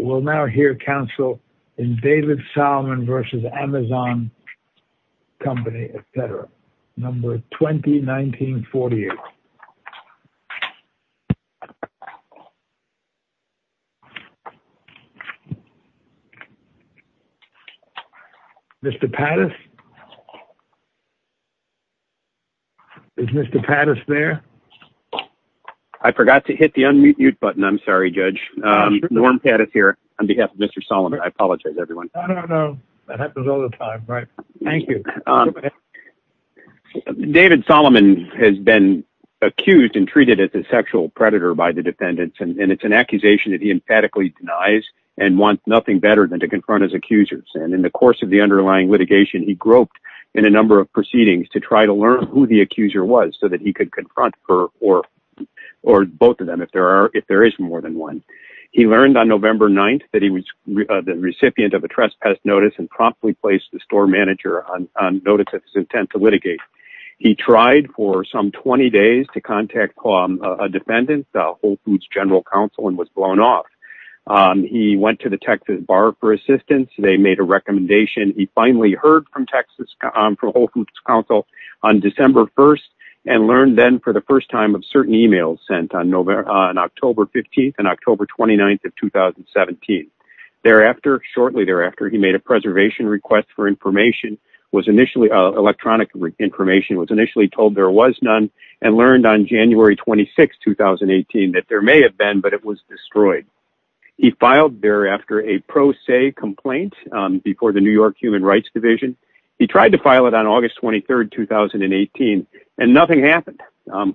We'll now hear counsel in David Solomon v. Amazon Company, etc. Number 20-19-48. Mr. Pattis? Is Mr. Pattis there? I forgot to hit the unmute button. I'm sorry, Judge. Norm Pattis here on behalf of Mr. Solomon. I apologize, everyone. No, no, no. That happens all the time. Right. Thank you. David Solomon has been accused and treated as a sexual predator by the defendants, and it's an accusation that he emphatically denies and wants nothing better than to confront his accusers. And in the course of the underlying litigation, he groped in a number of proceedings to try to learn who the accuser was so that he could confront her or both of them if there is more than one. He learned on November 9th that he was the recipient of a trespass notice and promptly placed the store manager on notice of his intent to litigate. He tried for some 20 days to contact a defendant, Whole Foods General Counsel, and was blown off. He went to the Texas bar for assistance. They made a recommendation. He finally heard from Texas for Whole Foods Counsel on December 1st and learned then for the first time of certain e-mails sent on October 15th and October 29th of 2017. Shortly thereafter, he made a preservation request for information. Electronic information was initially told there was none and learned on January 26, 2018, that there may have been, but it was destroyed. He filed thereafter a pro se complaint before the New York Human Rights Division. He tried to file it on August 23rd, 2018, and nothing happened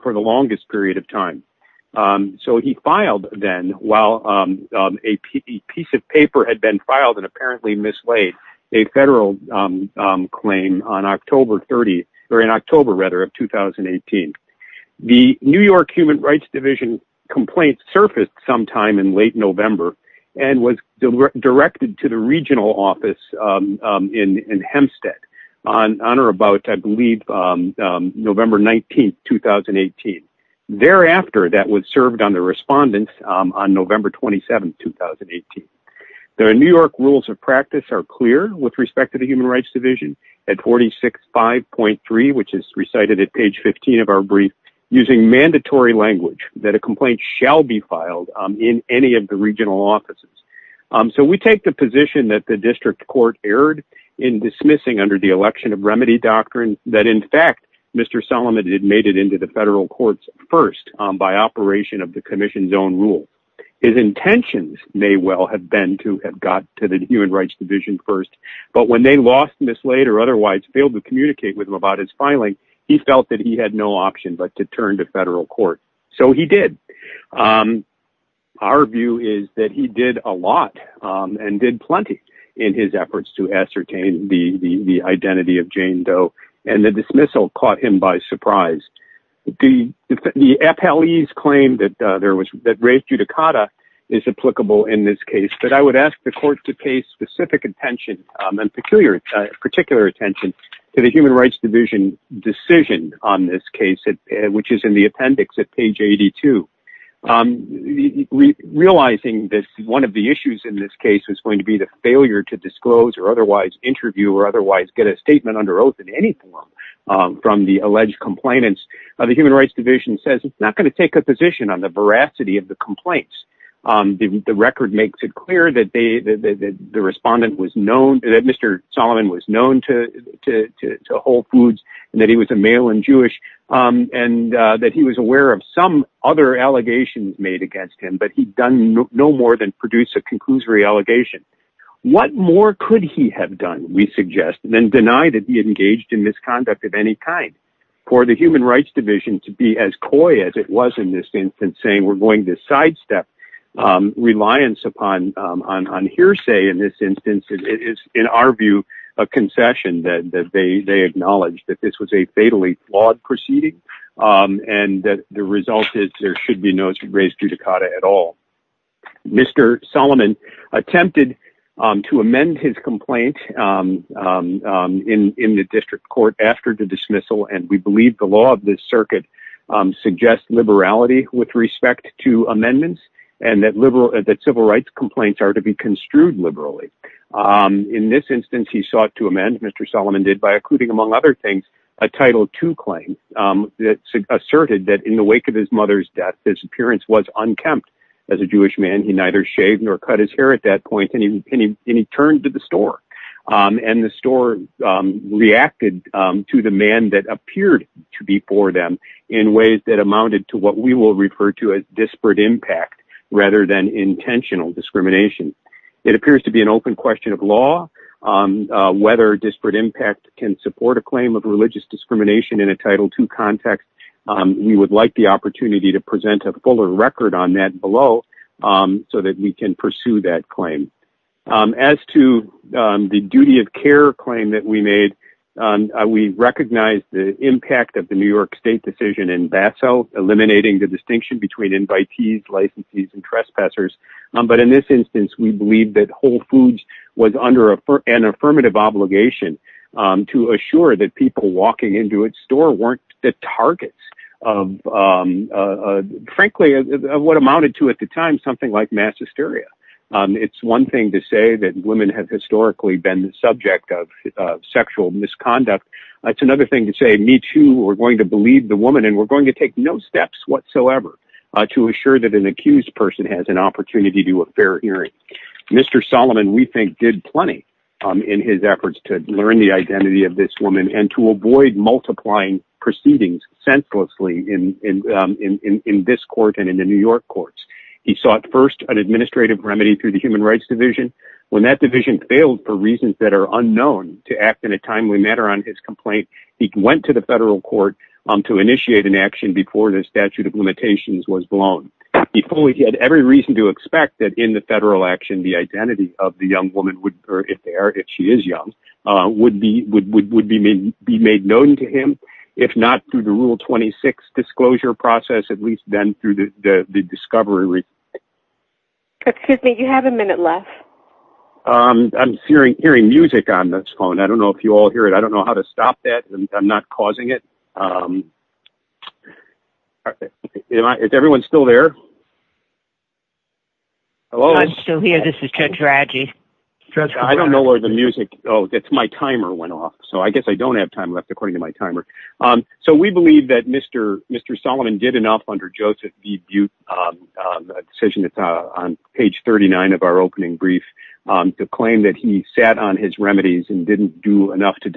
for the longest period of time. So he filed then while a piece of paper had been filed and apparently mislaid a federal claim on October 30th, or in October, rather, of 2018. The New York Human Rights Division complaint surfaced sometime in late November and was directed to the regional office in Hempstead on or about, I believe, November 19th, 2018. Thereafter, that was served on the respondents on November 27th, 2018. The New York rules of practice are clear with respect to the Human Rights Division at 46.5.3, which is recited at page 15 of our brief, using mandatory language that a complaint shall be filed in any of the regional offices. So we take the position that the district court erred in dismissing under the election of remedy doctrine that, in fact, Mr. Solomon had made it into the federal courts first by operation of the commission's own rule. His intentions may well have been to have got to the Human Rights Division first, but when they lost, mislaid, or otherwise failed to communicate with him about his filing, he felt that he had no option but to turn to federal court. So he did. Our view is that he did a lot and did plenty in his efforts to ascertain the identity of Jane Doe, and the dismissal caught him by surprise. The appellees claimed that race judicata is applicable in this case, but I would ask the court to pay specific attention and particular attention to the Human Rights Division decision on this case, which is in the appendix at page 82. Realizing that one of the issues in this case is going to be the failure to disclose or otherwise interview or otherwise get a statement under oath in any form from the alleged complainants, the Human Rights Division says it's not going to take a position on the veracity of the complaints. The record makes it clear that Mr. Solomon was known to Whole Foods and that he was a male and Jewish and that he was aware of some other allegations made against him, but he'd done no more than produce a conclusory allegation. What more could he have done, we suggest, than deny that he engaged in misconduct of any kind for the Human Rights Division to be as coy as it was in this instance, saying we're going to sidestep reliance upon hearsay in this instance. It is, in our view, a concession that they acknowledge that this was a fatally flawed proceeding and that the result is there should be no race judicata at all. Mr. Solomon attempted to amend his complaint in the district court after the dismissal, and we believe the law of this circuit suggests liberality with respect to amendments and that civil rights complaints are to be construed liberally. In this instance, he sought to amend, Mr. Solomon did, by including, among other things, a Title II claim that asserted that in the wake of his mother's death, his appearance was unkempt. As a Jewish man, he neither shaved nor cut his hair at that point, and he turned to the store, and the store reacted to the man that appeared to be for them in ways that amounted to what we will refer to as disparate impact rather than intentional discrimination. It appears to be an open question of law, whether disparate impact can support a claim of religious discrimination in a Title II context. We would like the opportunity to present a fuller record on that below so that we can pursue that claim. As to the duty of care claim that we made, we recognize the impact of the New York State decision in Basel, eliminating the distinction between invitees, licensees, and trespassers. But in this instance, we believe that Whole Foods was under an affirmative obligation to assure that people walking into its store weren't the targets of, frankly, what amounted to at the time, something like mass hysteria. It's one thing to say that women have historically been the subject of sexual misconduct. It's another thing to say, me too, we're going to believe the woman, and we're going to take no steps whatsoever to assure that an accused person has an opportunity to do a fair hearing. Mr. Solomon, we think, did plenty in his efforts to learn the identity of this woman and to avoid multiplying proceedings senselessly in this court and in the New York courts. He sought first an administrative remedy through the Human Rights Division. When that division failed for reasons that are unknown to act in a timely manner on his complaint, he went to the federal court to initiate an action before the statute of limitations was blown. He had every reason to expect that in the federal action, the identity of the young woman, or if she is young, would be made known to him. If not through the Rule 26 disclosure process, at least then through the discovery. Excuse me, you have a minute left. I'm hearing music on this phone. I don't know if you all hear it. I don't know how to stop that. I'm not causing it. Is everyone still there? Hello? I'm still here. This is Judge Radji. I don't know where the music, oh, my timer went off. So I guess I don't have time left according to my timer. So we believe that Mr. Solomon did enough under Joseph B. Butte, a decision that's on page 39 of our opening brief, to claim that he sat on his remedies and didn't do enough to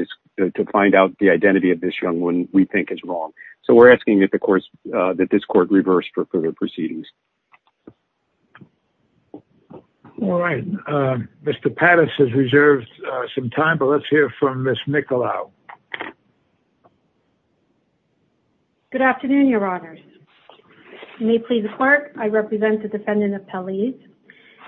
find out the identity of this young woman we think is wrong. So we're asking that this court reverse for further proceedings. All right. Mr. Pattis has reserved some time, but let's hear from Ms. Nicolau. Good afternoon, Your Honors. You may please clerk. I represent the defendant, Appellees.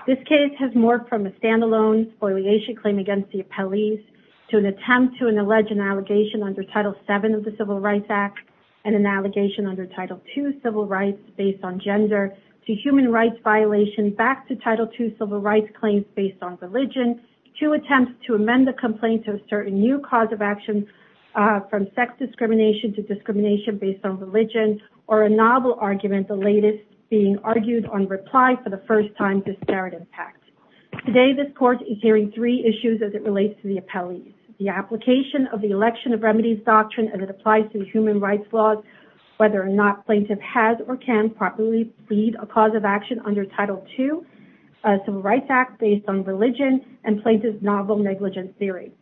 This case has morphed from a stand-alone spoliation claim against the Appellees to an attempt to allege an allegation under Title VII of the Civil Rights Act and an allegation under Title II civil rights based on gender to human rights violation back to Title II civil rights claims based on religion to attempt to amend the complaint to assert a new cause of action from sex discrimination to discrimination based on religion or a novel argument, the latest being argued on reply for the first time disparate impact. Today, this court is hearing three issues as it relates to the Appellees. The application of the election of remedies doctrine as it applies to human rights laws, whether or not plaintiff has or can properly plead a cause of action under Title II civil rights act based on religion and plaintiff's novel negligence theory.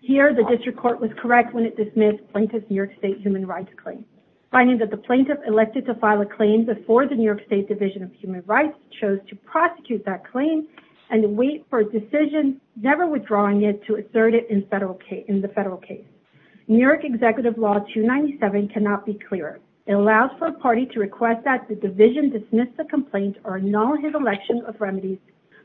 Here, the district court was correct when it dismissed plaintiff's New York State human rights claim, finding that the plaintiff elected to file a claim before the New York State Division of Human Rights chose to prosecute that claim and wait for a decision never withdrawing it to assert it in the federal case. New York Executive Law 297 cannot be clearer. It allows for a party to request that the division dismiss the complaint or null his election of remedies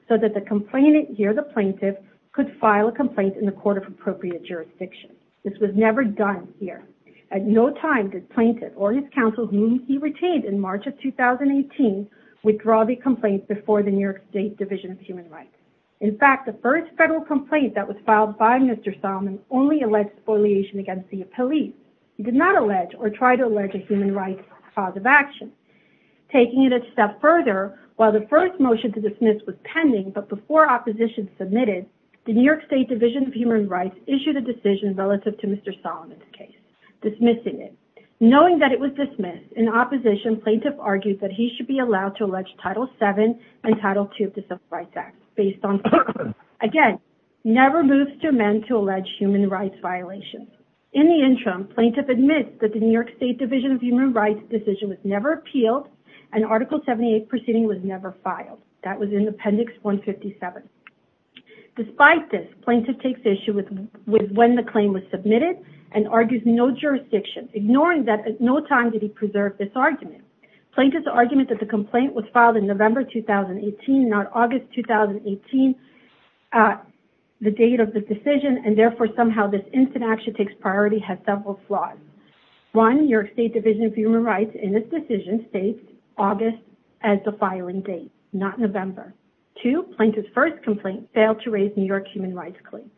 so that the complainant here, the plaintiff, could file a complaint in the court of appropriate jurisdiction. This was never done here. At no time did plaintiff or his counsel, whom he retained in March of 2018, withdraw the complaint before the New York State Division of Human Rights. In fact, the first federal complaint that was filed by Mr. Solomon only alleged spoliation against the Appellee. He did not allege or try to allege a human rights cause of action. Taking it a step further, while the first motion to dismiss was pending, but before opposition submitted, the New York State Division of Human Rights issued a decision relative to Mr. Solomon's case, dismissing it. Knowing that it was dismissed, in opposition, plaintiff argued that he should be allowed to allege Title VII and Title II of the Civil Rights Act, based on, again, never moves to amend to allege human rights violations. In the interim, plaintiff admits that the New York State Division of Human Rights decision was never appealed and Article 78 proceeding was never filed. That was in Appendix 157. Despite this, plaintiff takes issue with when the claim was submitted and argues no jurisdiction, ignoring that at no time did he preserve this argument. Plaintiff's argument that the complaint was filed in November 2018, not August 2018, the date of the decision, and therefore somehow this instant action takes priority, has several flaws. One, New York State Division of Human Rights in its decision states August as the filing date, not November. Two, plaintiff's first complaint failed to raise New York's human rights claim.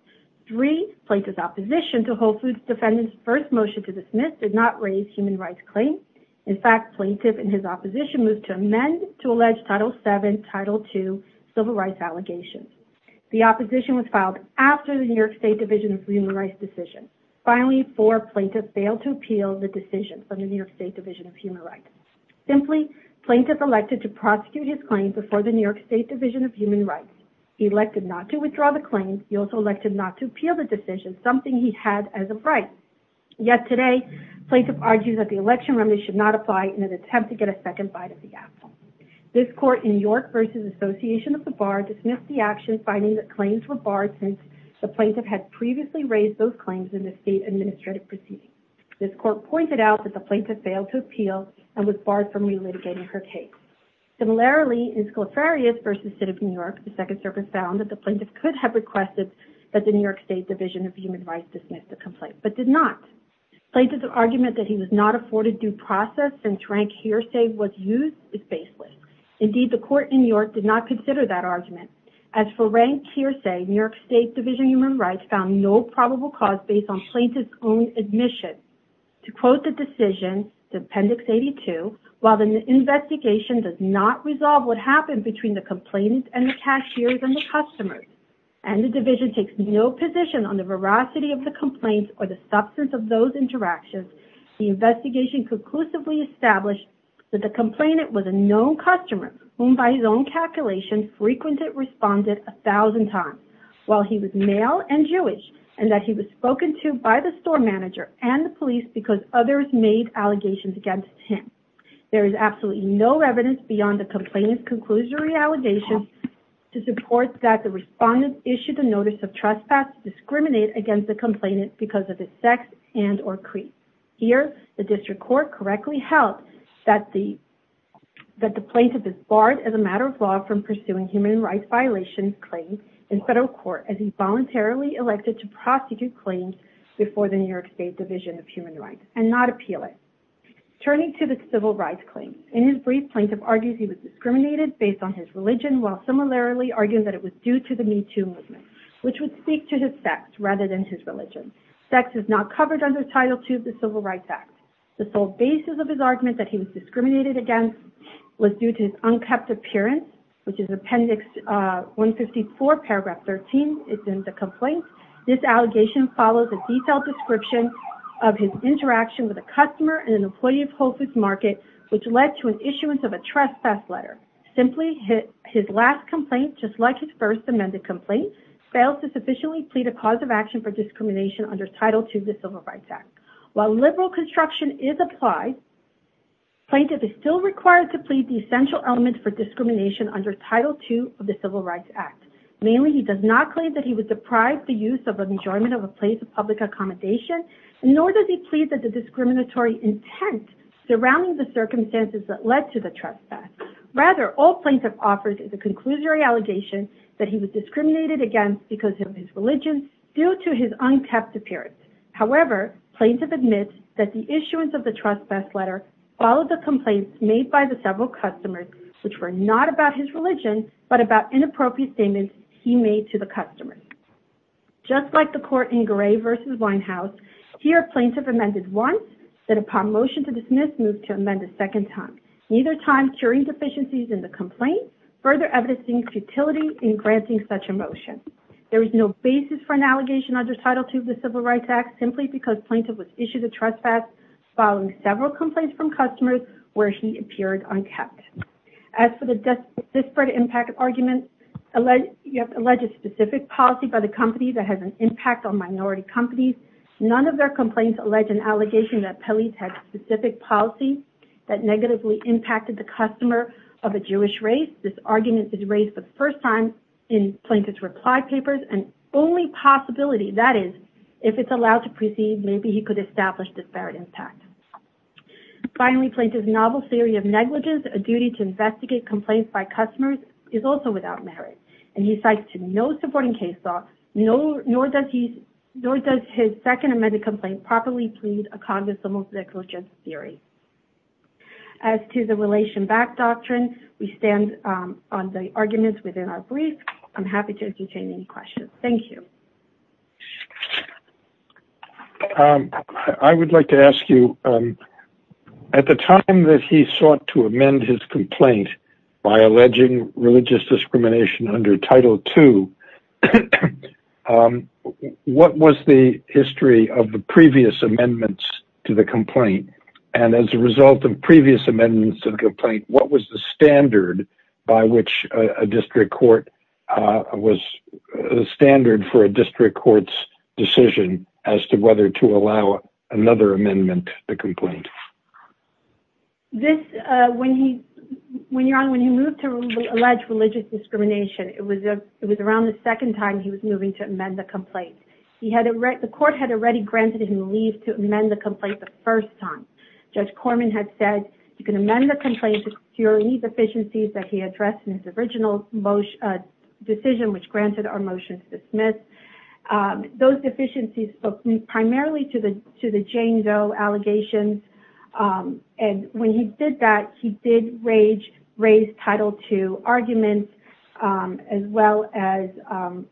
Three, plaintiff's opposition to Whole Foods Defendant's first motion to dismiss did not raise human rights claim. In fact, plaintiff and his opposition moved to amend to allege Title VII, Title II civil rights allegations. The opposition was filed after the New York State Division of Human Rights decision. Finally, four, plaintiff failed to appeal the decision from the New York State Division of Human Rights. Simply, plaintiff elected to prosecute his claim before the New York State Division of Human Rights. He elected not to withdraw the claim. He also elected not to appeal the decision, something he had as a right. Yet today, plaintiff argues that the election remedy should not apply in an attempt to get a second bite of the apple. This court in York v. Association of the Bar dismissed the action, finding that claims were barred since the plaintiff had previously raised those claims in the state administrative proceeding. This court pointed out that the plaintiff failed to appeal and was barred from relitigating her case. Similarly, in Scliferius v. City of New York, the Second Circuit found that the plaintiff could have requested that the New York State Division of Human Rights dismiss the complaint, but did not. Plaintiff's argument that he was not afforded due process and drank hearsay was used is baseless. Indeed, the court in New York did not consider that argument. As for drank hearsay, New York State Division of Human Rights found no probable cause based on plaintiff's own admission. To quote the decision, Appendix 82, while the investigation does not resolve what happened between the complainant and the cashiers and the customers, and the division takes no position on the veracity of the complaints or the substance of those interactions, the investigation conclusively established that the complainant was a known customer, whom by his own calculation frequented respondent a thousand times, while he was male and Jewish, and that he was spoken to by the store manager and the police because others made allegations against him. There is absolutely no evidence beyond the complainant's conclusory allegations to support that the respondent issued a notice of trespass to discriminate against the complainant because of his sex and or creed. Here, the district court correctly held that the plaintiff is barred as a matter of law from pursuing human rights violations claims in federal court as he voluntarily elected to prosecute claims before the New York State Division of Human Rights and not appeal it. Turning to the civil rights claims, in his brief, plaintiff argues he was discriminated based on his religion, while similarly arguing that it was due to the Me Too movement, which would speak to his sex rather than his religion. Sex is not covered under Title II of the Civil Rights Act. The sole basis of his argument that he was discriminated against was due to his unkept appearance, which is Appendix 154, paragraph 13. It's in the complaint. This allegation follows a detailed description of his interaction with a customer and an employee of Whole Foods Market, which led to an issuance of a trespass letter. Simply, his last complaint, just like his first amended complaint, fails to sufficiently plead a cause of action for discrimination under Title II of the Civil Rights Act. While liberal construction is applied, plaintiff is still required to plead the essential element for discrimination under Title II of the Civil Rights Act. Mainly, he does not claim that he was deprived the use of an enjoyment of a place of public accommodation, nor does he plead that the discriminatory intent surrounding the circumstances that led to the trespass. Rather, all plaintiff offers is a conclusory allegation that he was discriminated against because of his religion due to his unkept appearance. However, plaintiff admits that the issuance of the trespass letter followed the complaints made by the several customers, which were not about his religion, but about inappropriate statements he made to the customers. Just like the court in Gray v. Winehouse, here plaintiff amended once, then upon motion to dismiss, moved to amend a second time. Neither time curing deficiencies in the complaint, further evidencing futility in granting such a motion. There is no basis for an allegation under Title II of the Civil Rights Act, simply because plaintiff was issued a trespass following several complaints from customers where he appeared unkept. As for the disparate impact argument, you have to allege a specific policy by the company that has an impact on minority companies. None of their complaints allege an allegation that Pelley's had specific policy that negatively impacted the customer of a Jewish race. This argument is raised for the first time in plaintiff's reply papers, and only possibility, that is, if it's allowed to proceed, maybe he could establish disparate impact. Finally, plaintiff's novel theory of negligence, a duty to investigate complaints by customers, is also without merit. And he cites no supporting case law, nor does his second amended complaint properly plead a cognizant of negligence theory. As to the relation back doctrine, we stand on the arguments within our brief. I'm happy to entertain any questions. Thank you. I would like to ask you, at the time that he sought to amend his complaint by alleging religious discrimination under Title II, what was the history of the previous amendments to the complaint? And as a result of previous amendments to the complaint, what was the standard for a district court's decision as to whether to allow another amendment to the complaint? When he moved to allege religious discrimination, it was around the second time he was moving to amend the complaint. The court had already granted him leave to amend the complaint the first time. Judge Corman had said, you can amend the complaint to secure any deficiencies that he addressed in his original decision, which granted our motion to dismiss. Those deficiencies spoke primarily to the Jane Doe allegations. And when he did that, he did raise Title II arguments, as well as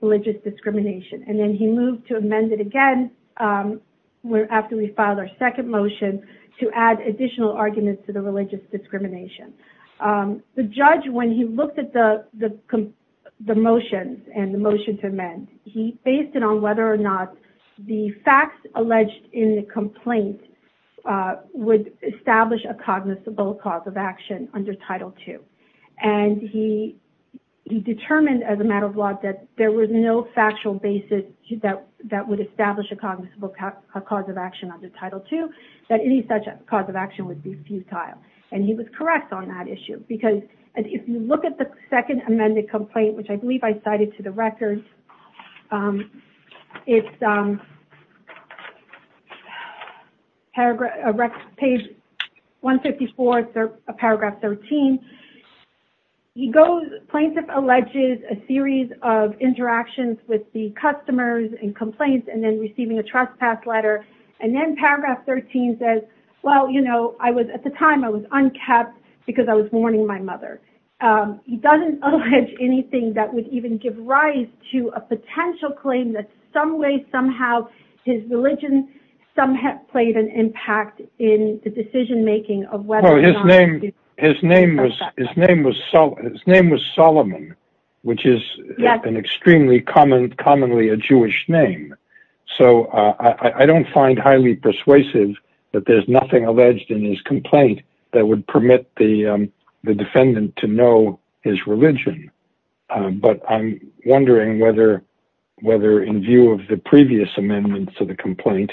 religious discrimination. And then he moved to amend it again after we filed our second motion to add additional arguments to the religious discrimination. The judge, when he looked at the motions and the motion to amend, he based it on whether or not the facts alleged in the complaint would establish a cognizable cause of action under Title II. And he determined as a matter of law that there was no factual basis that would establish a cognizable cause of action under Title II, that any such cause of action would be futile. And he was correct on that issue. Because if you look at the second amended complaint, which I believe I cited to the record, it's page 154, paragraph 13. Plaintiff alleges a series of interactions with the customers and complaints and then receiving a trespass letter. And then paragraph 13 says, well, you know, at the time I was uncapped because I was warning my mother. He doesn't allege anything that would even give rise to a potential claim that some way, somehow, his religion somehow played an impact in the decision making of whether or not... His name was Solomon, which is an extremely commonly a Jewish name. So I don't find highly persuasive that there's nothing alleged in his complaint that would permit the defendant to know his religion. But I'm wondering whether in view of the previous amendments to the complaint,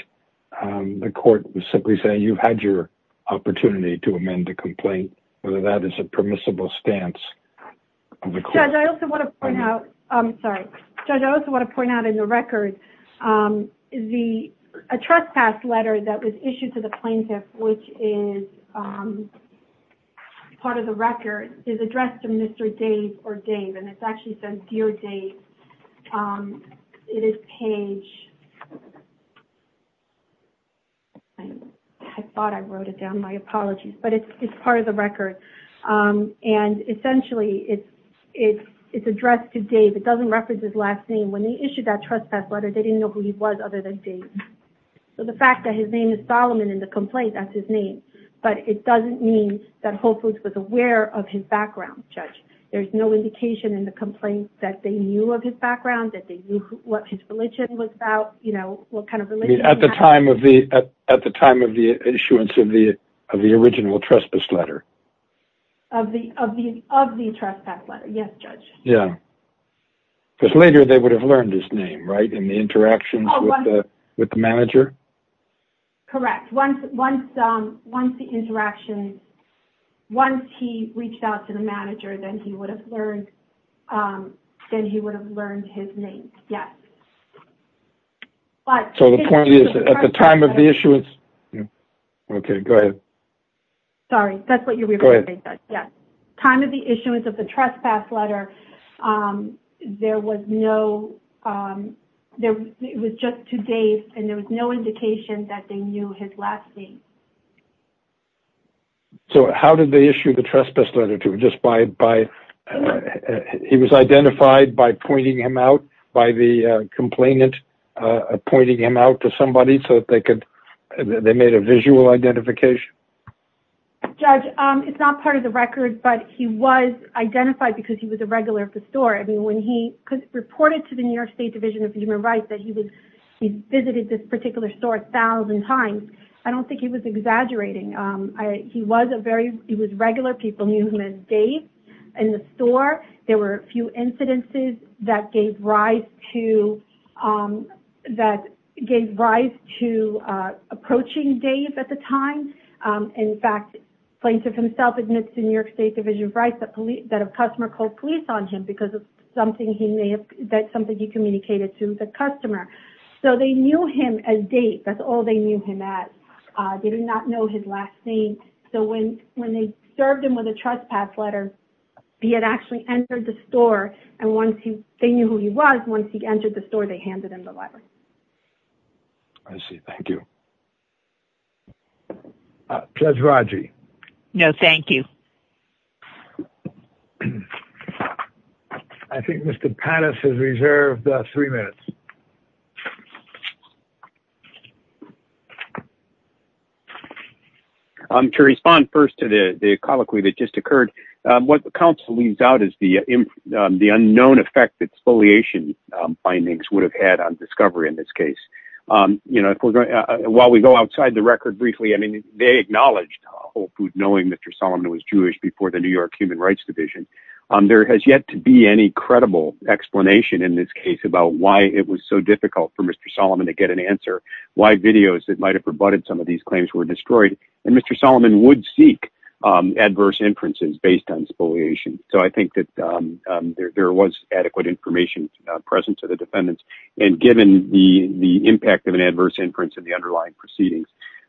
the court was simply saying you had your opportunity to amend the complaint, whether that is a permissible stance of the court. Judge, I also want to point out in the record a trespass letter that was issued to the plaintiff, which is part of the record, is addressed to Mr. Dave or Dave. And it's actually said, Dear Dave. It is page... I thought I wrote it down. My apologies. But it's part of the record. And essentially, it's addressed to Dave. It doesn't reference his last name. When they issued that trespass letter, they didn't know who he was other than Dave. So the fact that his name is Solomon in the complaint, that's his name. But it doesn't mean that Whole Foods was aware of his background, Judge. There's no indication in the complaint that they knew of his background, that they knew what his religion was about, you know, what kind of religion... At the time of the issuance of the original trespass letter. Of the trespass letter, yes, Judge. Yeah. Because later they would have learned his name, right, in the interactions with the manager? Correct. Once the interactions, once he reached out to the manager, then he would have learned his name, yes. So the point is, at the time of the issuance... Okay. Go ahead. Sorry. That's what you're referring to. Go ahead. Yes. Time of the issuance of the trespass letter, there was no... It was just to Dave, and there was no indication that they knew his last name. So how did they issue the trespass letter to him? He was identified by pointing him out, by the complainant pointing him out to somebody, so they made a visual identification? Judge, it's not part of the record, but he was identified because he was a regular at the store. I mean, when he reported to the New York State Division of Human Rights that he visited this particular store a thousand times, I don't think he was exaggerating. He was a very... He was a regular. People knew him as Dave in the store. There were a few incidences that gave rise to approaching Dave at the time. In fact, the plaintiff himself admits in New York State Division of Human Rights that a customer called police on him because of something he may have... That's something he communicated to the customer. So they knew him as Dave. That's all they knew him as. They did not know his last name. So when they served him with a trespass letter, he had actually entered the store, and once he... They knew who he was. Once he entered the store, they handed him the letter. I see. Thank you. Judge Rodger? No, thank you. I think Mr. Pannis has reserved three minutes. To respond first to the colloquy that just occurred, what the counsel leaves out is the unknown effect that exfoliation findings would have had on discovery in this case. While we go outside the record briefly, I mean, they acknowledged Whole Foods knowing Mr. Solomon was Jewish before the New York Human Rights Division. There has yet to be any credible explanation in this case about why it was so difficult for Mr. Solomon to get an answer, why videos that might have rebutted some of these claims were destroyed. And Mr. Solomon would seek adverse inferences based on exfoliation. So I think that there was adequate information present to the defendants, and given the impact of an adverse inference of the underlying proceedings,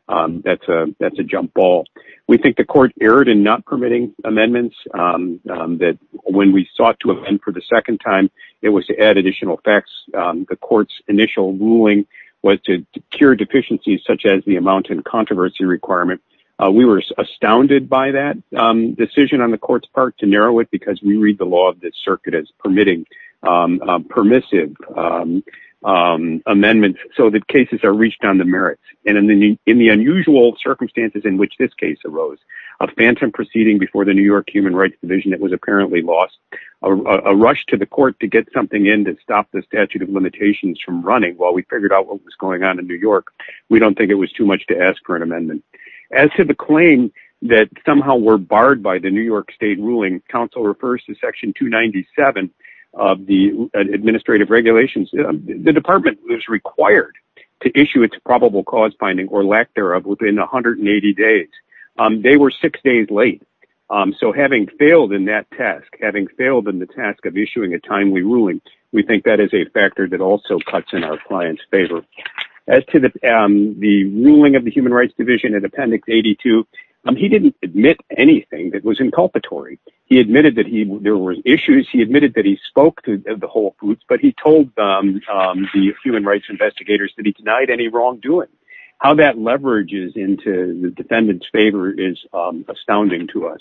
that's a jump ball. We think the court erred in not permitting amendments. We believe that when we sought to amend for the second time, it was to add additional facts. The court's initial ruling was to cure deficiencies such as the amount and controversy requirement. We were astounded by that decision on the court's part to narrow it because we read the law of the circuit as permissive amendments so that cases are reached on the merits. And in the unusual circumstances in which this case arose, a phantom proceeding before the New York Human Rights Division that was apparently lost, a rush to the court to get something in to stop the statute of limitations from running. While we figured out what was going on in New York, we don't think it was too much to ask for an amendment. As to the claim that somehow were barred by the New York State ruling, counsel refers to section 297 of the administrative regulations. The department was required to issue its probable cause finding or lack thereof within 180 days. They were six days late. So having failed in that task, having failed in the task of issuing a timely ruling, we think that is a factor that also cuts in our client's favor. As to the ruling of the Human Rights Division in Appendix 82, he didn't admit anything that was inculpatory. He admitted that there were issues. He admitted that he spoke to the whole group, but he told the human rights investigators that he denied any wrongdoing. How that leverages into the defendant's favor is astounding to us.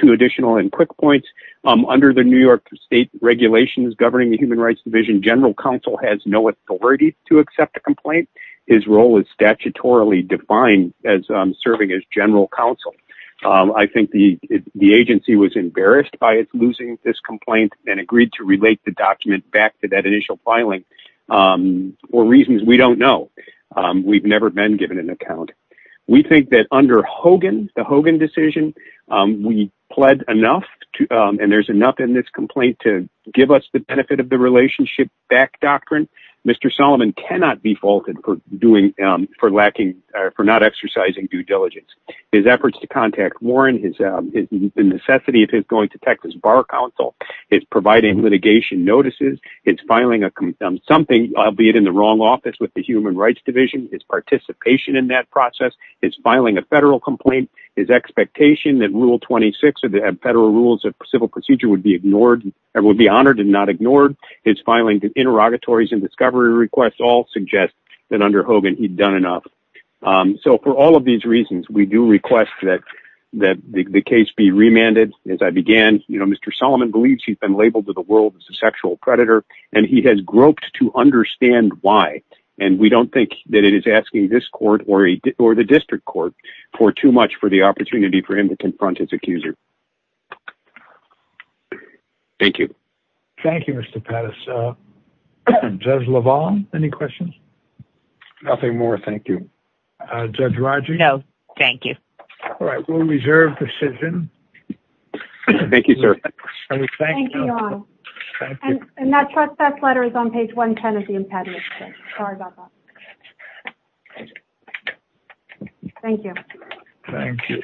Two additional and quick points. Under the New York State regulations governing the Human Rights Division, general counsel has no authority to accept a complaint. His role is statutorily defined as serving as general counsel. I think the agency was embarrassed by losing this complaint and agreed to relate the document back to that initial filing for reasons we don't know. We've never been given an account. We think that under Hogan, the Hogan decision, we pled enough, and there's enough in this complaint to give us the benefit of the relationship back doctrine. Mr. Solomon cannot be faulted for not exercising due diligence. His efforts to contact Warren, the necessity of his going to Texas Bar Counsel, his providing litigation notices, his filing something, albeit in the wrong office with the Human Rights Division, his participation in that process, his filing a federal complaint, his expectation that Rule 26 of the Federal Rules of Civil Procedure would be honored and not ignored, his filing interrogatories and discovery requests all suggest that under Hogan he'd done enough. So for all of these reasons, we do request that the case be remanded as I began. Mr. Solomon believes he's been labeled to the world as a sexual predator, and he has groped to understand why. And we don't think that it is asking this court or the district court for too much for the opportunity for him to confront his accuser. Thank you. Thank you, Mr. Pettis. Judge LaValle, any questions? Nothing more, thank you. Judge Rodgers? No, thank you. All right, we'll reserve decision. Thank you, sir. Thank you, Your Honor. And that letter is on page 110 of the impediment. Sorry about that. Thank you. Thank you.